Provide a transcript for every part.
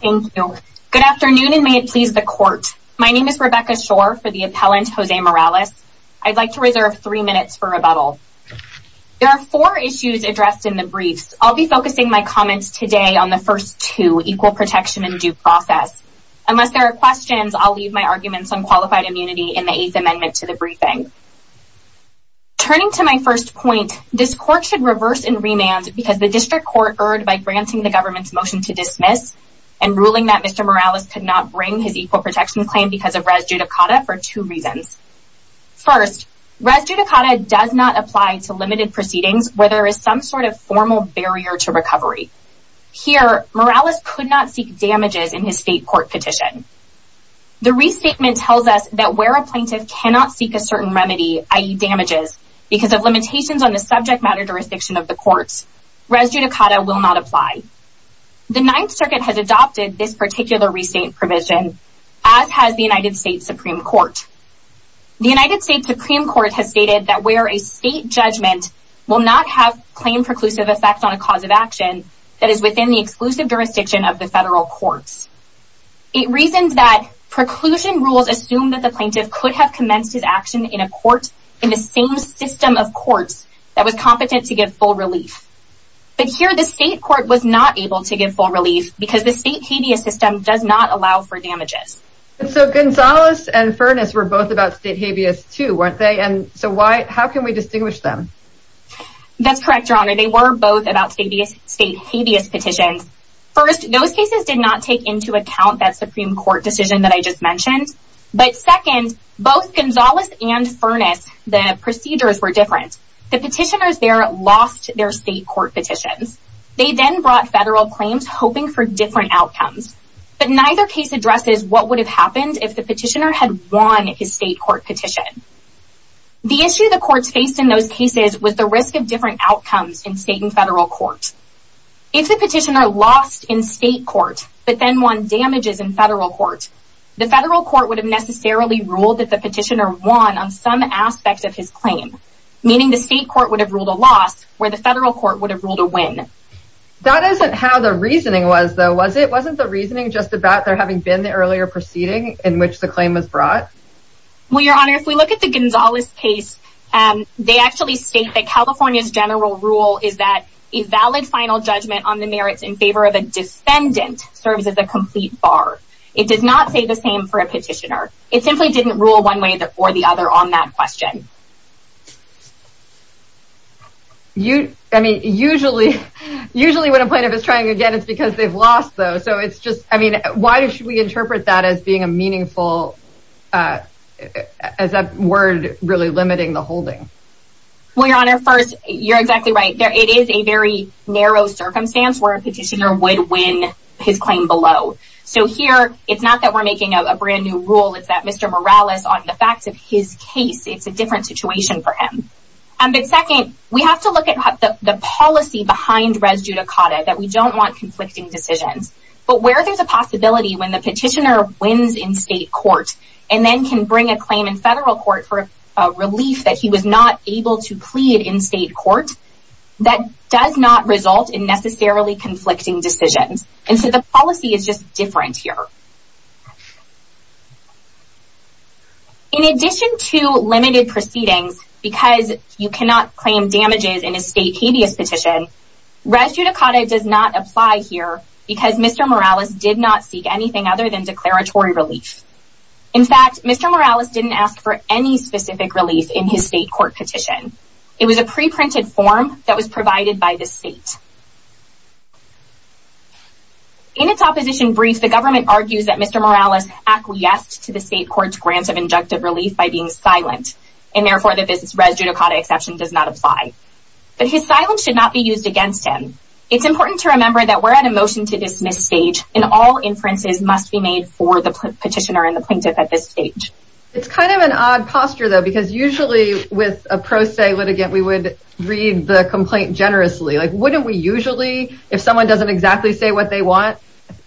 Thank you. Good afternoon and may it please the court. My name is Rebecca Schor for the appellant, Jose Morales. I'd like to reserve three minutes for rebuttal. There are four issues addressed in the briefs. I'll be focusing my comments today on the first two, equal protection and due process. Unless there are questions, I'll leave my arguments on qualified immunity in the eighth amendment to the briefing. Turning to my first point, this court should reverse and remand because the district court erred by granting the government's motion to dismiss and ruling that Mr. Morales could not bring his equal protection claim because of res judicata for two reasons. First, res judicata does not apply to limited proceedings where there is some sort of formal barrier to recovery. Here, Morales could not seek damages in his state court petition. The restatement tells us that where a plaintiff cannot seek a certain remedy, i.e. damages, because of limitations on the subject matter jurisdiction of the courts, res judicata will not apply. The Ninth Circuit has adopted this particular restate provision, as has the United States Supreme Court. The United States Supreme Court has stated that where a state judgment will not have claim preclusive effect on a cause of action that is within the exclusive jurisdiction of the federal courts. It reasons that preclusion rules assume that the plaintiff could have commenced his action in a court in the same system of courts that was competent to give full relief. But here, the state court was not able to give full relief because the state habeas system does not allow for damages. So Gonzalez and Furness were both about state habeas too, weren't they? And so why, how can we distinguish them? That's correct, Your Honor. They were both about state habeas petitions. First, those cases did not take into account that Supreme Court decision that I just mentioned. But second, both The petitioners there lost their state court petitions. They then brought federal claims, hoping for different outcomes. But neither case addresses what would have happened if the petitioner had won his state court petition. The issue the courts faced in those cases was the risk of different outcomes in state and federal courts. If the petitioner lost in state court, but then won damages in federal court, the federal court would have necessarily ruled that some aspects of his claim, meaning the state court would have ruled a loss where the federal court would have ruled a win. That isn't how the reasoning was though, was it? Wasn't the reasoning just about there having been the earlier proceeding in which the claim was brought? Well, Your Honor, if we look at the Gonzalez case, they actually state that California's general rule is that a valid final judgment on the merits in favor of a defendant serves as a complete bar. It does not say the same for a petitioner. It simply didn't rule one way or the other on that question. You, I mean, usually, usually when a plaintiff is trying again, it's because they've lost though. So it's just, I mean, why should we interpret that as being a meaningful, uh, as a word really limiting the holding? Well, Your Honor, first, you're exactly right there. It is a very narrow circumstance where a petitioner would win his claim below. So here, it's not that we're making a brand new rule. It's that Mr. Morales on the facts of his case, it's a different situation for him. Um, but second, we have to look at the policy behind res judicata, that we don't want conflicting decisions, but where there's a possibility when the petitioner wins in state court and then can bring a claim in federal court for a relief that he was not able to plead in state court, that does not result in necessarily conflicting decisions. And the policy is just different here. In addition to limited proceedings, because you cannot claim damages in a state habeas petition, res judicata does not apply here because Mr. Morales did not seek anything other than declaratory relief. In fact, Mr. Morales didn't ask for any specific relief in his state court petition. It was a preprinted form that was provided by the state. In its opposition brief, the government argues that Mr. Morales acquiesced to the state court's grants of injunctive relief by being silent, and therefore the business res judicata exception does not apply. But his silence should not be used against him. It's important to remember that we're at a motion to dismiss stage and all inferences must be made for the petitioner and the plaintiff at this stage. It's kind of an odd posture, though, because usually with a pro se litigant, we would read the complaint generously. Like, wouldn't we usually, if someone doesn't exactly say what they want,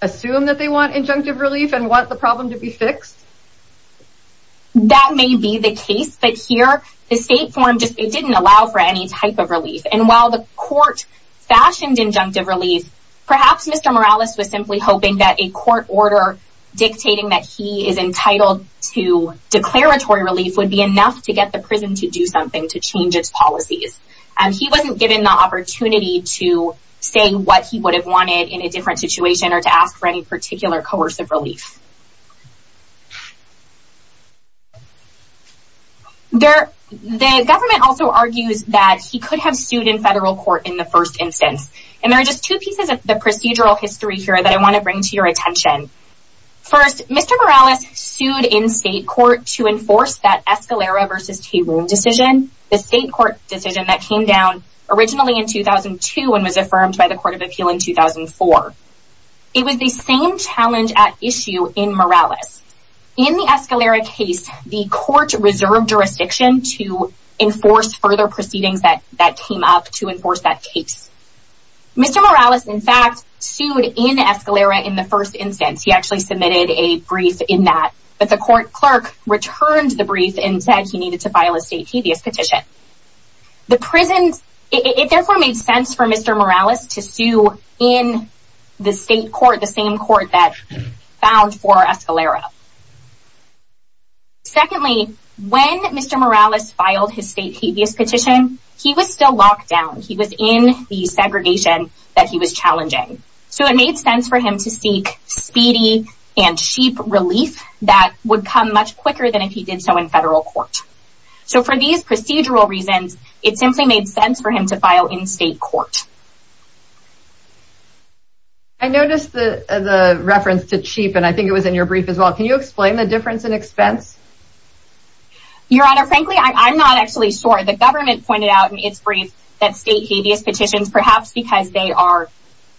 assume that they want injunctive relief and want the problem to be fixed? That may be the case, but here, the state form just didn't allow for any type of relief. And while the court fashioned injunctive relief, perhaps Mr. Morales was simply hoping that a court order dictating that he is entitled to declaratory relief would be enough to get the prison to do something to change its policies. And he wasn't given the opportunity to say what he would have wanted in a different situation or to ask for any particular coercive relief. There, the government also argues that he could have sued in federal court in the first instance. And there are just two pieces of the procedural history here that I want to bring to your attention. First, Mr. Morales sued in the state court decision that came down originally in 2002 and was affirmed by the Court of Appeal in 2004. It was the same challenge at issue in Morales. In the Escalera case, the court reserved jurisdiction to enforce further proceedings that came up to enforce that case. Mr. Morales, in fact, sued in Escalera in the first instance. He actually submitted a brief in that, but the court clerk returned the brief and said he needed to file a state habeas petition. The prisons, it therefore made sense for Mr. Morales to sue in the state court, the same court that found for Escalera. Secondly, when Mr. Morales filed his state habeas petition, he was still locked down. He was in the segregation that he was challenging. So it made sense for him to seek speedy and would come much quicker than if he did so in federal court. So for these procedural reasons, it simply made sense for him to file in state court. I noticed the reference to cheap, and I think it was in your brief as well. Can you explain the difference in expense? Your Honor, frankly, I'm not actually sure. The government pointed out in its brief that state habeas petitions, perhaps because they are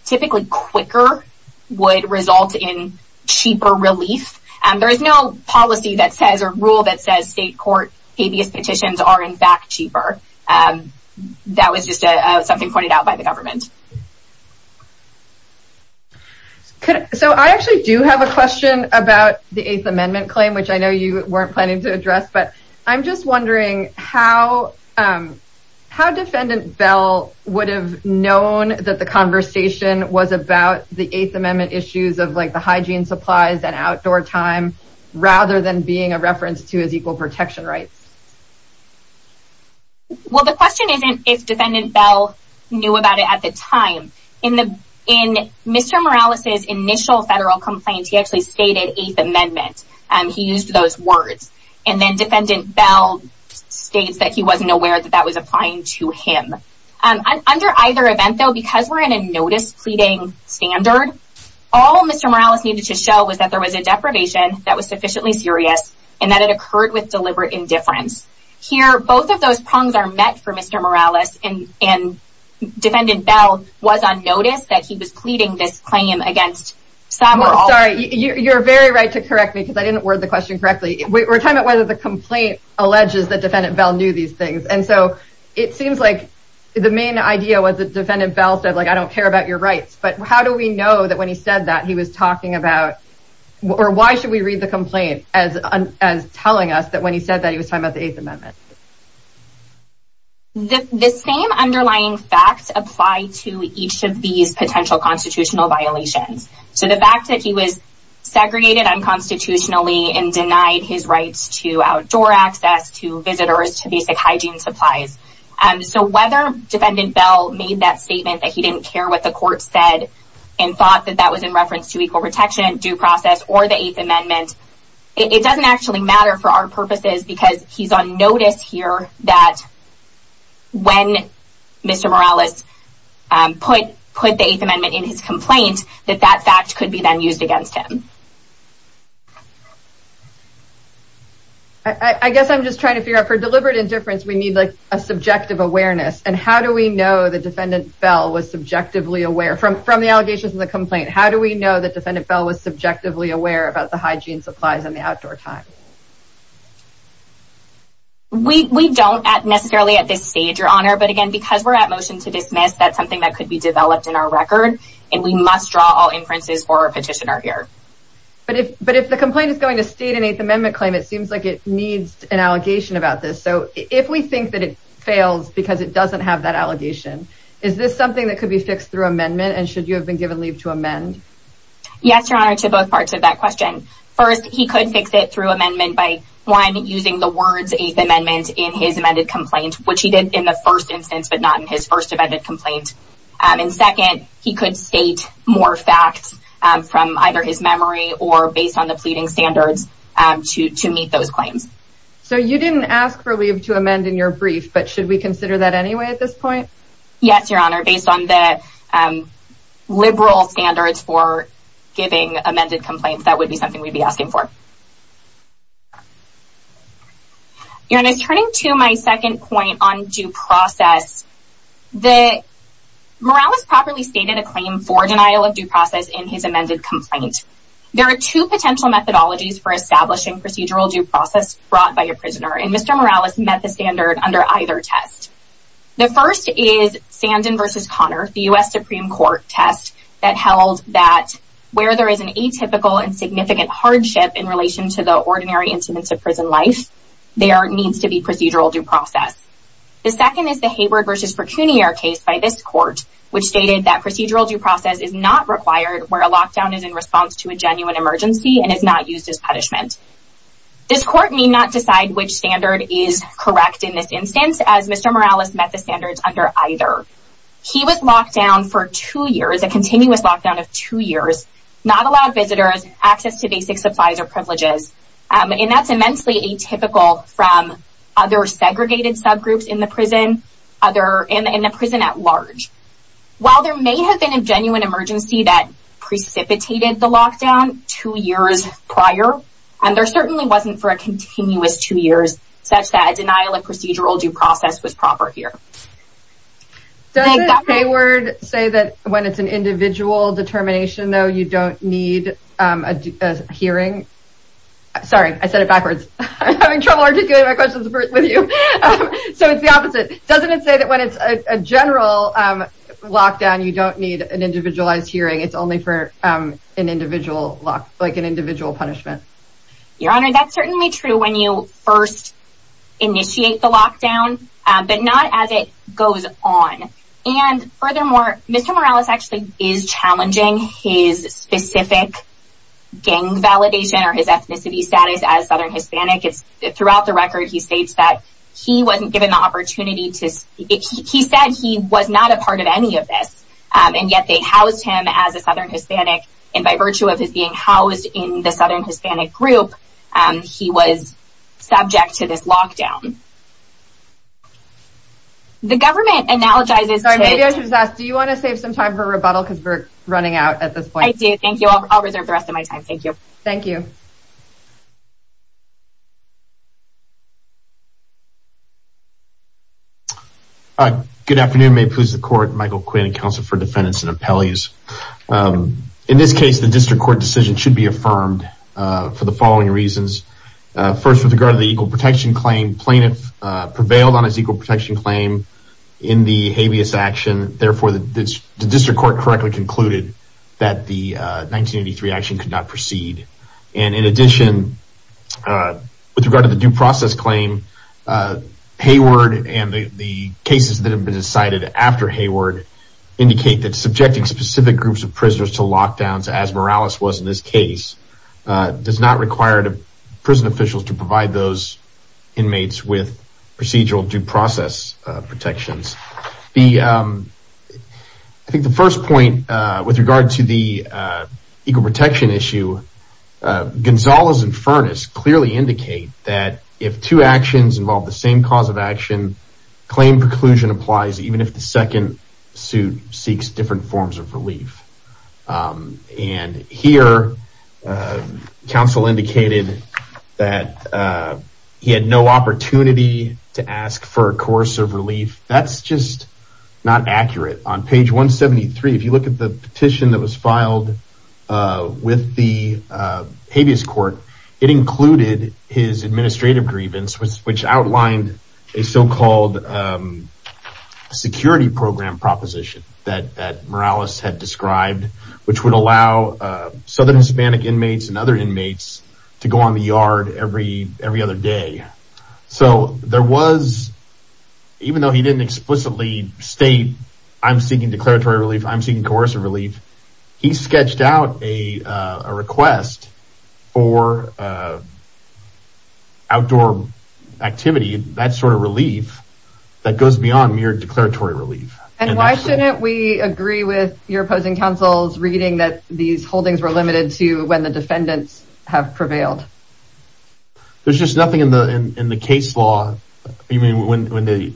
typically quicker, would result in cheaper relief. There is no policy that says, or rule that says state court habeas petitions are in fact cheaper. That was just something pointed out by the government. So I actually do have a question about the Eighth Amendment claim, which I know you weren't planning to address, but I'm just wondering how how Defendant Bell would have known that the conversation was about the Eighth Amendment issues of the hygiene supplies and outdoor time, rather than being a reference to his equal protection rights? Well, the question isn't if Defendant Bell knew about it at the time. In Mr. Morales' initial federal complaint, he actually stated Eighth Amendment. He used those words. And then Defendant Bell states that he wasn't aware that that was applying to him. Under either event, though, because we're in a notice pleading standard, all Mr. Morales needed to show was that there was a deprivation that was sufficiently serious, and that it occurred with deliberate indifference. Here, both of those prongs are met for Mr. Morales, and and Defendant Bell was on notice that he was pleading this claim against Somerville. Sorry, you're very right to correct me because I didn't word the question correctly. We're talking about whether the complaint alleges that Defendant Bell knew these things. And so it seems like the main idea was that Defendant Bell said, like, I don't care about your rights. But how do we know that when he said that, he was talking about, or why should we read the complaint as telling us that when he said that he was talking about the Eighth Amendment? The same underlying facts apply to each of these potential constitutional violations. So the fact that he was segregated unconstitutionally and denied his rights to outdoor access, to visitors, to basic hygiene supplies. So whether Defendant Bell made that statement that he didn't care what the court said and thought that that was in reference to equal protection, due process, or the Eighth Amendment, it doesn't actually matter for our purposes because he's on notice here that when Mr. Morales put the Eighth Amendment in his complaint, that that fact could be then used against him. I guess I'm just trying to figure out, for deliberate indifference, we need, like, a subjective awareness. And how do we know that Defendant Bell was subjectively aware, from the allegations in the complaint, how do we know that Defendant Bell was subjectively aware about the hygiene supplies and the outdoor time? We don't necessarily at this stage, Your Honor, but again, because we're at motion to dismiss, that's something that could be developed in our record, and we must draw all inferences for our petitioner here. But if the complaint is going to state an Eighth Amendment claim, it seems like it needs an allegation about this. So if we think that it fails because it doesn't have that allegation, is this something that could be fixed through amendment, and should you have been given leave to amend? Yes, Your Honor, to both parts of that question. First, he could fix it through amendment by, one, using the words Eighth Amendment in his amended complaint, which he did in the first instance, but not in his first amended complaint. And second, he could state more facts from either his memory or based on the pleading standards to meet those claims. So you didn't ask for leave to amend in your brief, but should we consider that anyway at this point? Yes, Your Honor, based on the liberal standards for giving amended complaints, that would be something we'd be asking for. Your Honor, turning to my second point on due process, Morales properly stated a claim for denial of due process in his amended complaint. There are two potential methodologies for establishing procedural due process brought by a prisoner, and Mr. Morales met the standard under either test. The first is Sandin v. Connor, the U.S. Supreme Court test that held that where there is an atypical and significant hardship in relation to the ordinary incidents of prison life, there needs to be procedural due process. The second is the Hayward v. Fortunier case by this court, which stated that procedural due process is a response to a genuine emergency and is not used as punishment. This court may not decide which standard is correct in this instance, as Mr. Morales met the standards under either. He was locked down for two years, a continuous lockdown of two years, not allowed visitors access to basic supplies or privileges, and that's immensely atypical from other segregated subgroups in the prison at large. While there may have been a genuine emergency that precipitated the lockdown two years prior, and there certainly wasn't for a continuous two years, such that a denial of procedural due process was proper here. Doesn't Hayward say that when it's an individual determination, though, you don't need a hearing? Sorry, I said it backwards. I'm having trouble articulating my questions with you. So it's the opposite. Doesn't it say that when it's a general lockdown, you don't need an individualized hearing? It's only for an individual lock, like an individual punishment? Your Honor, that's certainly true when you first initiate the lockdown, but not as it goes on. And furthermore, Mr. Morales actually is challenging his specific gang validation or his ethnicity status as Southern Hispanic. Throughout the record, he states that he wasn't given the and yet they housed him as a Southern Hispanic, and by virtue of his being housed in the Southern Hispanic group, he was subject to this lockdown. The government analogizes... Sorry, maybe I should just ask, do you want to save some time for rebuttal because we're running out at this point? I do. Thank you. I'll reserve the rest of my time. Thank you. Thank you. All right. Good afternoon. May it please the court. Michael Quinn, counsel for defendants and appellees. In this case, the district court decision should be affirmed for the following reasons. First, with regard to the equal protection claim, plaintiff prevailed on his equal protection claim in the habeas action. Therefore, the district court correctly concluded that the 1983 action could not proceed. And in addition, with regard to the due process claim, Hayward and the cases that have been decided after Hayward indicate that subjecting specific groups of prisoners to lockdowns, as Morales was in this case, does not require the prison officials to provide those inmates with procedural due process protections. I think the first point with regard to the equal protection issue, Gonzalez and Furness clearly indicate that if two actions involve the same cause of action, claim preclusion applies even if the second suit seeks different forms of relief. And here, counsel indicated that he had no opportunity to ask for a course of relief. That's just not accurate. On page 173, if you look at the petition that was filed with the habeas court, it included his administrative grievance, which outlined a so-called security program proposition that Morales had described, which would allow Southern Hispanic inmates and other inmates to go on the yard every other day. So there was, even though he didn't explicitly state, I'm seeking declaratory relief, I'm seeking coercive relief, he sketched out a request for outdoor activity, that sort of relief, that goes beyond mere declaratory relief. And why shouldn't we agree with your opposing counsel's reading that these holdings were limited to when the defendants have prevailed? There's just nothing in the case law, even when the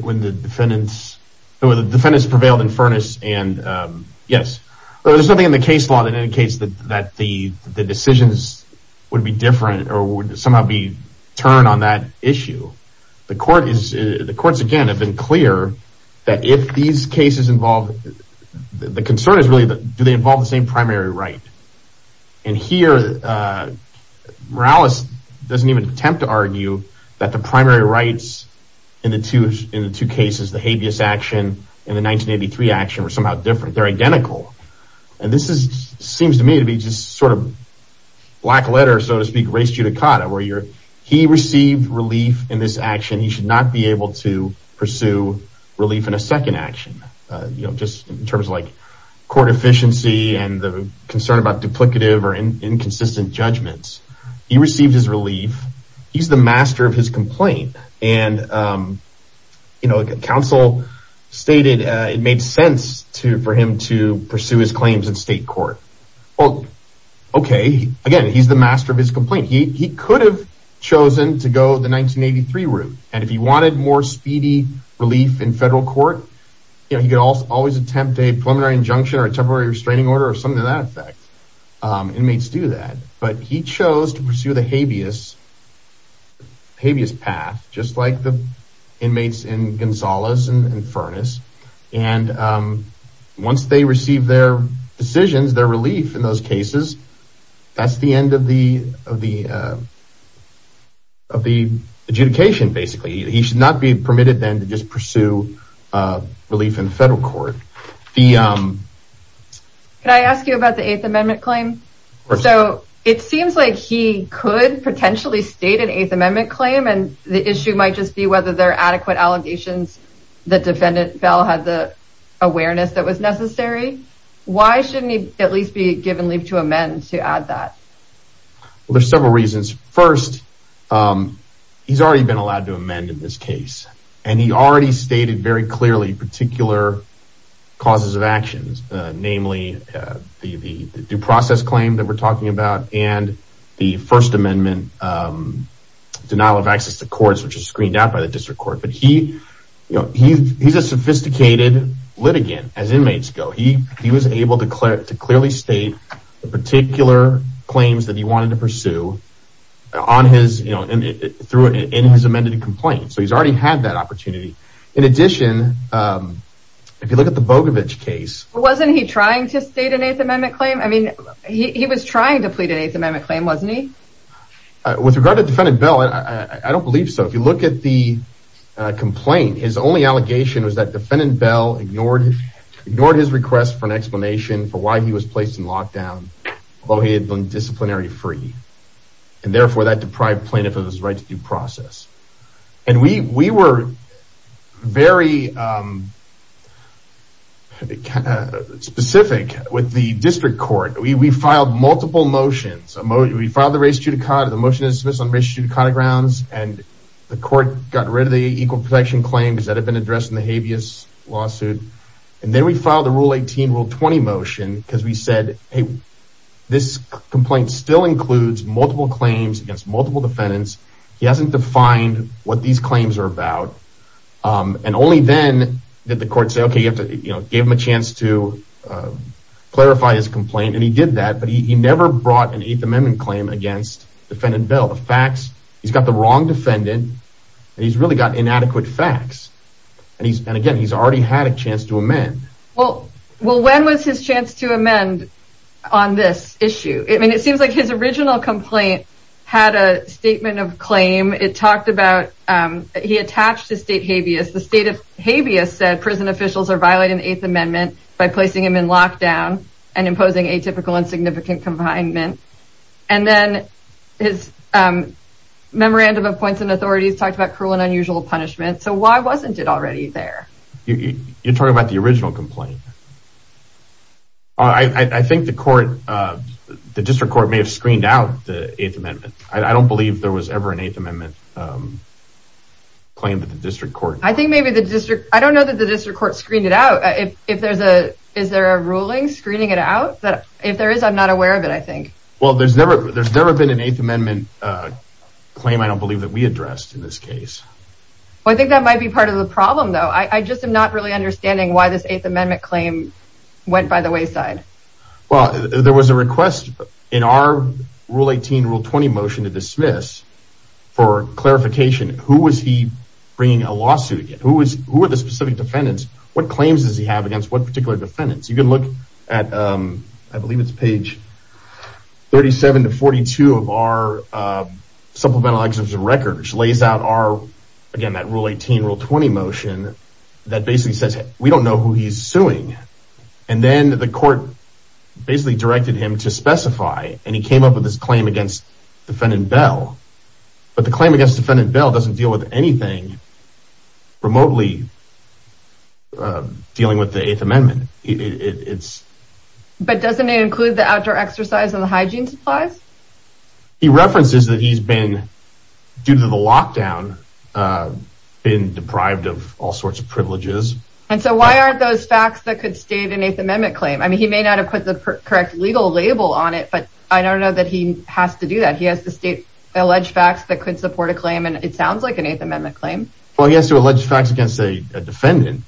defendants prevailed in Furness, and yes, there's nothing in the case law that indicates that the decisions would be different or would somehow be turned on that issue. The courts, again, have been clear that if these cases involve, the concern is really, do they involve the same primary right? And here Morales doesn't even attempt to argue that the primary rights in the two cases, the habeas action and the 1983 action, were somehow different. They're identical. And this seems to me to be just sort of black letter, so to speak, res judicata, where he received relief in this action, he should not be just in terms of like court efficiency and the concern about duplicative or inconsistent judgments. He received his relief. He's the master of his complaint. And counsel stated it made sense for him to pursue his claims in state court. Okay, again, he's the master of his complaint. He could have chosen to go the 1983 route. And if he wanted more speedy relief in federal court, he could always attempt a preliminary injunction or a temporary restraining order or something to that effect. Inmates do that, but he chose to pursue the habeas path, just like the inmates in Gonzalez and Furness. And once they receive their decisions, their relief in those cases, that's the end of the adjudication, basically. He should not be permitted then to just pursue relief in federal court. Can I ask you about the Eighth Amendment claim? So it seems like he could potentially state an Eighth Amendment claim, and the issue might just be whether there are adequate allegations that defendant Bell had the awareness that was necessary. Why shouldn't he at least be given leave to amend to add that? Well, there's several reasons. First, he's already been allowed to amend in this case, and he already stated very clearly particular causes of actions, namely the due process claim that we're talking about and the First Amendment denial of access to courts, which is screened out by the district court. But he's a sophisticated litigant as inmates go. He was able to clearly state the particular claims that he wanted to through his amended complaint. So he's already had that opportunity. In addition, if you look at the Bogovich case... Wasn't he trying to state an Eighth Amendment claim? I mean, he was trying to plead an Eighth Amendment claim, wasn't he? With regard to defendant Bell, I don't believe so. If you look at the complaint, his only allegation was that defendant Bell ignored his request for an explanation for he was placed in lockdown, although he had been disciplinary free, and therefore that deprived plaintiff of his right to due process. And we were very specific with the district court. We filed multiple motions. We filed the motion to dismiss on race judicata grounds, and the court got rid of the equal protection claims that had been said. This complaint still includes multiple claims against multiple defendants. He hasn't defined what these claims are about. And only then did the court say, okay, you have to give him a chance to clarify his complaint. And he did that, but he never brought an Eighth Amendment claim against defendant Bell. The facts, he's got the wrong defendant, and he's really got inadequate facts. And again, he's already had a chance to amend. Well, when was his chance to amend on this issue? I mean, it seems like his original complaint had a statement of claim. It talked about, he attached his state habeas. The state of habeas said prison officials are violating the Eighth Amendment by placing him in lockdown and imposing atypical and significant confinement. And then his memorandum of points and authorities talked about cruel and unusual punishment. So why wasn't it already there? You're talking about the original complaint. I think the court, the district court may have screened out the Eighth Amendment. I don't believe there was ever an Eighth Amendment claim that the district court. I think maybe the district, I don't know that the district court screened it out. Is there a ruling screening it out? If there is, I'm not aware of it, I think. Well, there's never been an Eighth Amendment claim, I don't believe, that we addressed in this case. I think that might be part of the problem though. I just am not really understanding why this Eighth Amendment claim went by the wayside. Well, there was a request in our Rule 18, Rule 20 motion to dismiss for clarification. Who was he bringing a lawsuit against? Who were the specific defendants? What claims does he have against what particular defendants? You can look at, I believe it's page 37 to 42 of our Supplemental Exemption Record, which lays out again that Rule 18, Rule 20 motion that basically says we don't know who he's suing. And then the court basically directed him to specify and he came up with this claim against defendant Bell. But the claim against defendant Bell doesn't deal with anything remotely dealing with the Eighth Amendment. But doesn't it include the outdoor exercise and the hygiene supplies? He references that he's been, due to the lockdown, been deprived of all sorts of privileges. And so why aren't those facts that could state an Eighth Amendment claim? I mean, he may not have put the correct legal label on it, but I don't know that he has to do that. He has to state alleged facts that could support a claim and it sounds like an Eighth Amendment claim. Well, he has to allege facts against a defendant.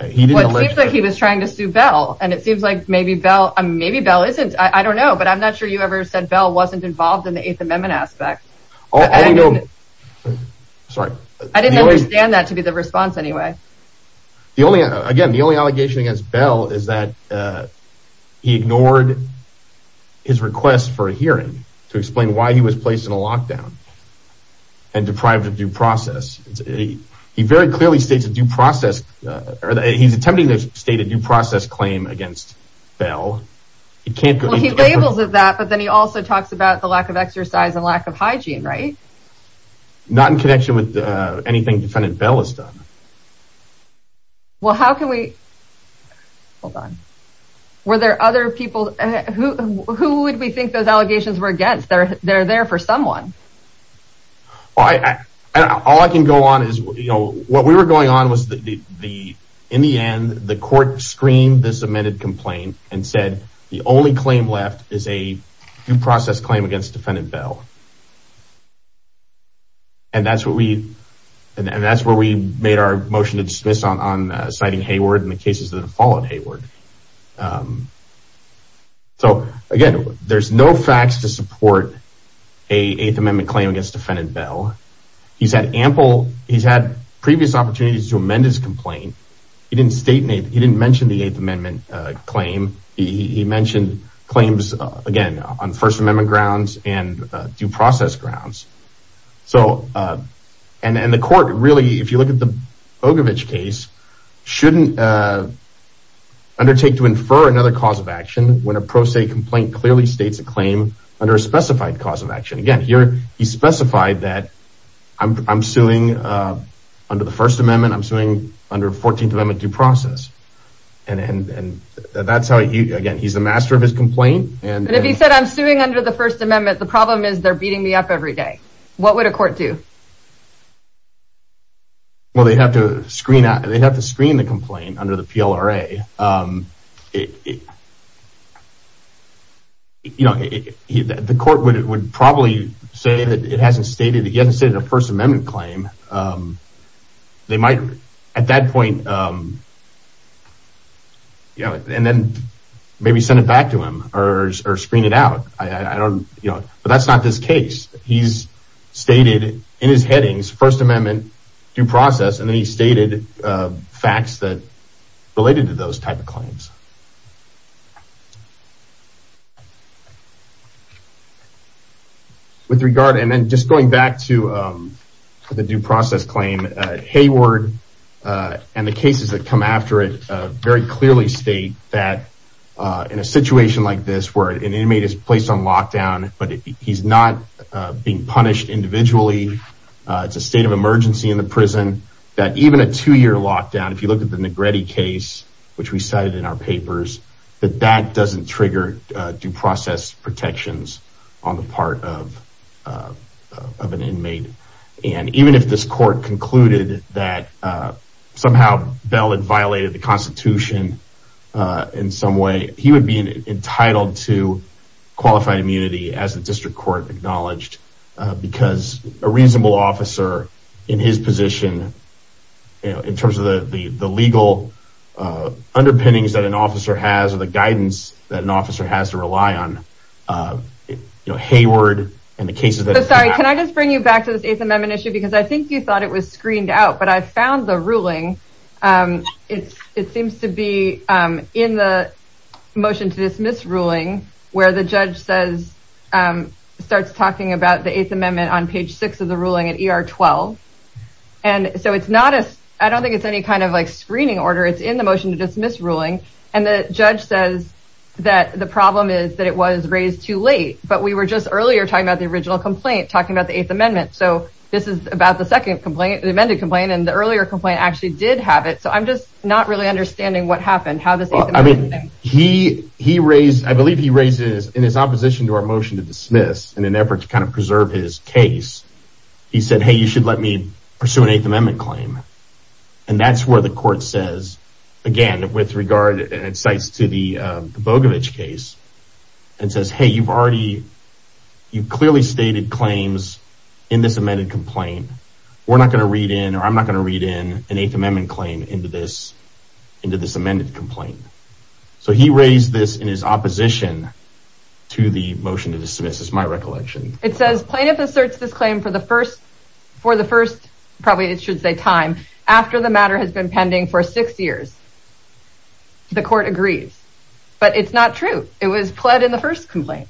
Well, it seems like he was trying to sue Bell and it seems like maybe Bell isn't. I don't know, but I'm not sure you ever said Bell wasn't involved in the Eighth Amendment aspect. I didn't understand that to be the response anyway. The only, again, the only allegation against Bell is that he ignored his request for a hearing to explain why he was placed in a lockdown and deprived of due process. He very clearly states a due process. He's attempting to state a due process claim against Bell. He labels it that, but then he also talks about the lack of exercise and lack of hygiene, right? Not in connection with anything defendant Bell has done. Well, how can we, hold on, were there other people, who would we think those allegations were against? They're there for someone. All I can go on is, you know, what we were going on was in the end, the court screened this amended complaint and said the only claim left is a due process claim against defendant Bell. And that's what we, and that's where we made our motion to dismiss on citing Hayward and the cases that have followed Hayward. So again, there's no facts to support a Eighth Amendment claim against defendant Bell. He's had ample, he's had previous opportunities to amend his complaint. He didn't state, he didn't mention the Eighth Amendment claim. He mentioned claims again, on First Amendment grounds and due process grounds. So, and the court really, if you look at the Bogovich case, shouldn't undertake to infer another cause of action when a pro se complaint clearly states a claim under a specified cause of action. Again, here he specified that I'm suing under the First Amendment due process. And that's how he, again, he's the master of his complaint. And if he said I'm suing under the First Amendment, the problem is they're beating me up every day. What would a court do? Well, they'd have to screen, they'd have to screen the complaint under the PLRA. You know, the court would probably say that it hasn't stated, he hasn't stated a First Amendment claim. They might at that point, you know, and then maybe send it back to him or screen it out. I don't, you know, but that's not this case. He's stated in his headings, First Amendment, due process, and then he stated facts that related to those types of claims. With regard, and then just going back to the due process claim, Hayward and the cases that come after it very clearly state that in a situation like this, where an inmate is placed on lockdown, but he's not being punished individually, it's a state of emergency in the prison, that even a two-year lockdown, if you look at the Negretti case, which we cited in our papers, that that doesn't trigger due process protections on the part of an inmate. And even if this court concluded that somehow Bell had violated the Constitution in some way, he would be entitled to qualified immunity as the district court acknowledged, because a reasonable officer in his position, you know, in terms of the legal underpinnings that an officer has, or the guidance that an officer has to rely on, you know, Hayward and the cases that- Sorry, can I just bring you back to this Eighth Amendment issue? Because I think you thought it was screened out, but I found the ruling. It seems to be in the motion to dismiss ruling, where the judge says, starts talking about the Eighth Amendment on page six of the ruling at ER 12. And so it's not as, I don't think it's any kind of like screening order, it's in the motion to dismiss ruling. And the judge says that the problem is that it was raised too late, but we were just earlier talking about the original complaint, talking about the Eighth Amendment. So this is about the second complaint, the amended complaint, and the earlier complaint actually did have it. So I'm just not really understanding what happened, how this- I mean, he raised, I believe he raised it in his opposition to our motion to dismiss, in an effort to kind of preserve his case. He said, hey, you should let me pursue an Eighth Amendment claim. And that's where the regard, and it cites to the Bogovich case, and says, hey, you've already, you clearly stated claims in this amended complaint. We're not going to read in, or I'm not going to read in, an Eighth Amendment claim into this, into this amended complaint. So he raised this in his opposition to the motion to dismiss, is my recollection. It says plaintiff asserts this claim for the first, for the first, probably it should say time, after the matter has been for six years. The court agrees, but it's not true. It was pled in the first complaint.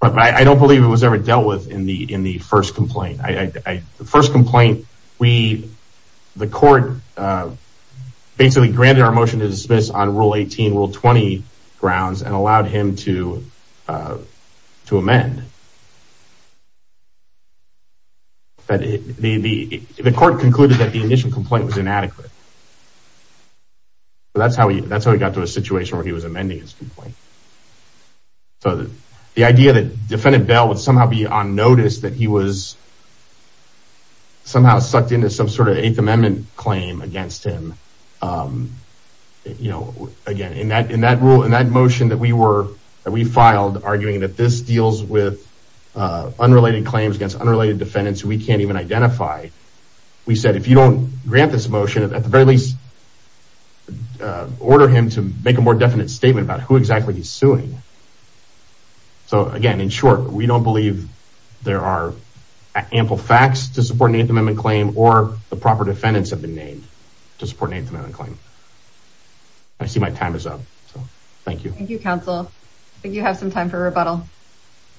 But I don't believe it was ever dealt with in the, in the first complaint. I, the first complaint, we, the court basically granted our motion to dismiss on Rule 18, Rule 20 grounds, and allowed him to, to amend. But the, the, the court concluded that the initial complaint was inadequate. So that's how he, that's how he got to a situation where he was amending his complaint. So the idea that Defendant Bell would somehow be on notice that he was somehow sucked into some sort of Eighth Amendment claim against him, you know, again, in that, in that rule, in that motion that we were, that we filed arguing that this deals with unrelated claims against unrelated defendants who we can't even identify. We said, if you don't grant this motion, at the very least, order him to make a more definite statement about who exactly he's suing. So again, in short, we don't believe there are ample facts to support an Eighth Amendment claim, or the proper defendants have been named to support an Eighth Amendment claim. I see my time is up. Thank you. Thank you, counsel. I think you have some time for rebuttal.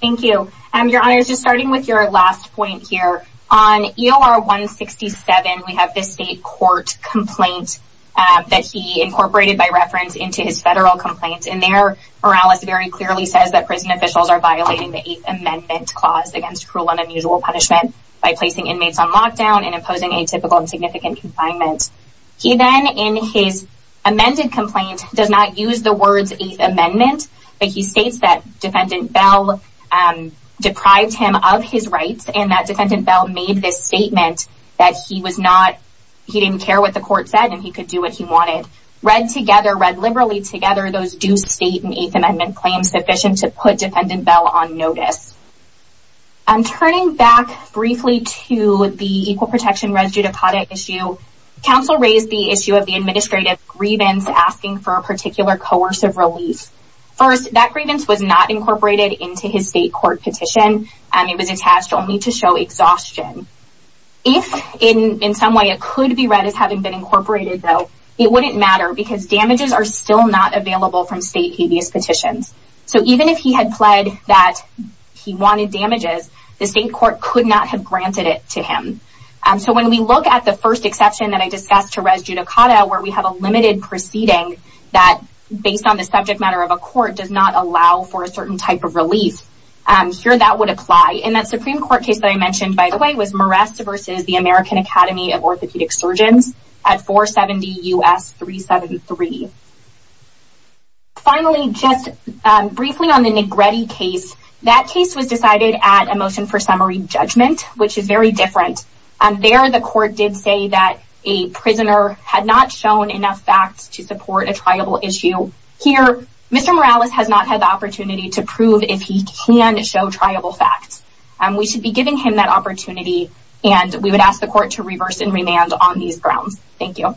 Thank you. Your Honor, just starting with your last point here, on EOR 167, we have this state court complaint that he incorporated by reference into his federal complaint. And there, Morales very clearly says that prison officials are violating the Eighth Amendment clause against cruel and unusual punishment by placing inmates on lockdown and imposing atypical and significant confinement. He then, in his amended complaint, does not use the words Eighth Amendment, but he states that Defendant Bell deprived him of his rights, and that Defendant Bell made this statement that he was not, he didn't care what the court said, and he could do what he wanted. Read together, read liberally together, those do state an Eighth Amendment claim sufficient to put Turning back briefly to the Equal Protection Residue Deposit Issue, counsel raised the issue of the administrative grievance asking for a particular coercive relief. First, that grievance was not incorporated into his state court petition. It was attached only to show exhaustion. If, in some way, it could be read as having been incorporated, though, it wouldn't matter because damages are still not available from state habeas petitions. So even if he had pled that he wanted damages, the state court could not have granted it to him. So when we look at the first exception that I discussed to res judicata, where we have a limited proceeding that, based on the subject matter of a court, does not allow for a certain type of relief, here that would apply. And that Supreme Court case that I mentioned, by the way, versus the American Academy of Orthopedic Surgeons at 470 U.S. 373. Finally, just briefly on the Negretti case, that case was decided at a motion for summary judgment, which is very different. There, the court did say that a prisoner had not shown enough facts to support a triable issue. Here, Mr. Morales has not had the opportunity to prove if he can show triable facts. We should be giving him that opportunity, and we would ask the court to reverse and remand on these grounds. Thank you.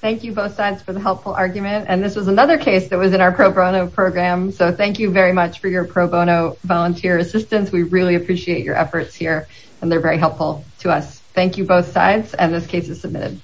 Thank you both sides for the helpful argument, and this was another case that was in our pro bono program. So thank you very much for your pro bono volunteer assistance. We really appreciate your efforts here, and they're very helpful to us. Thank you both sides, and this case is submitted.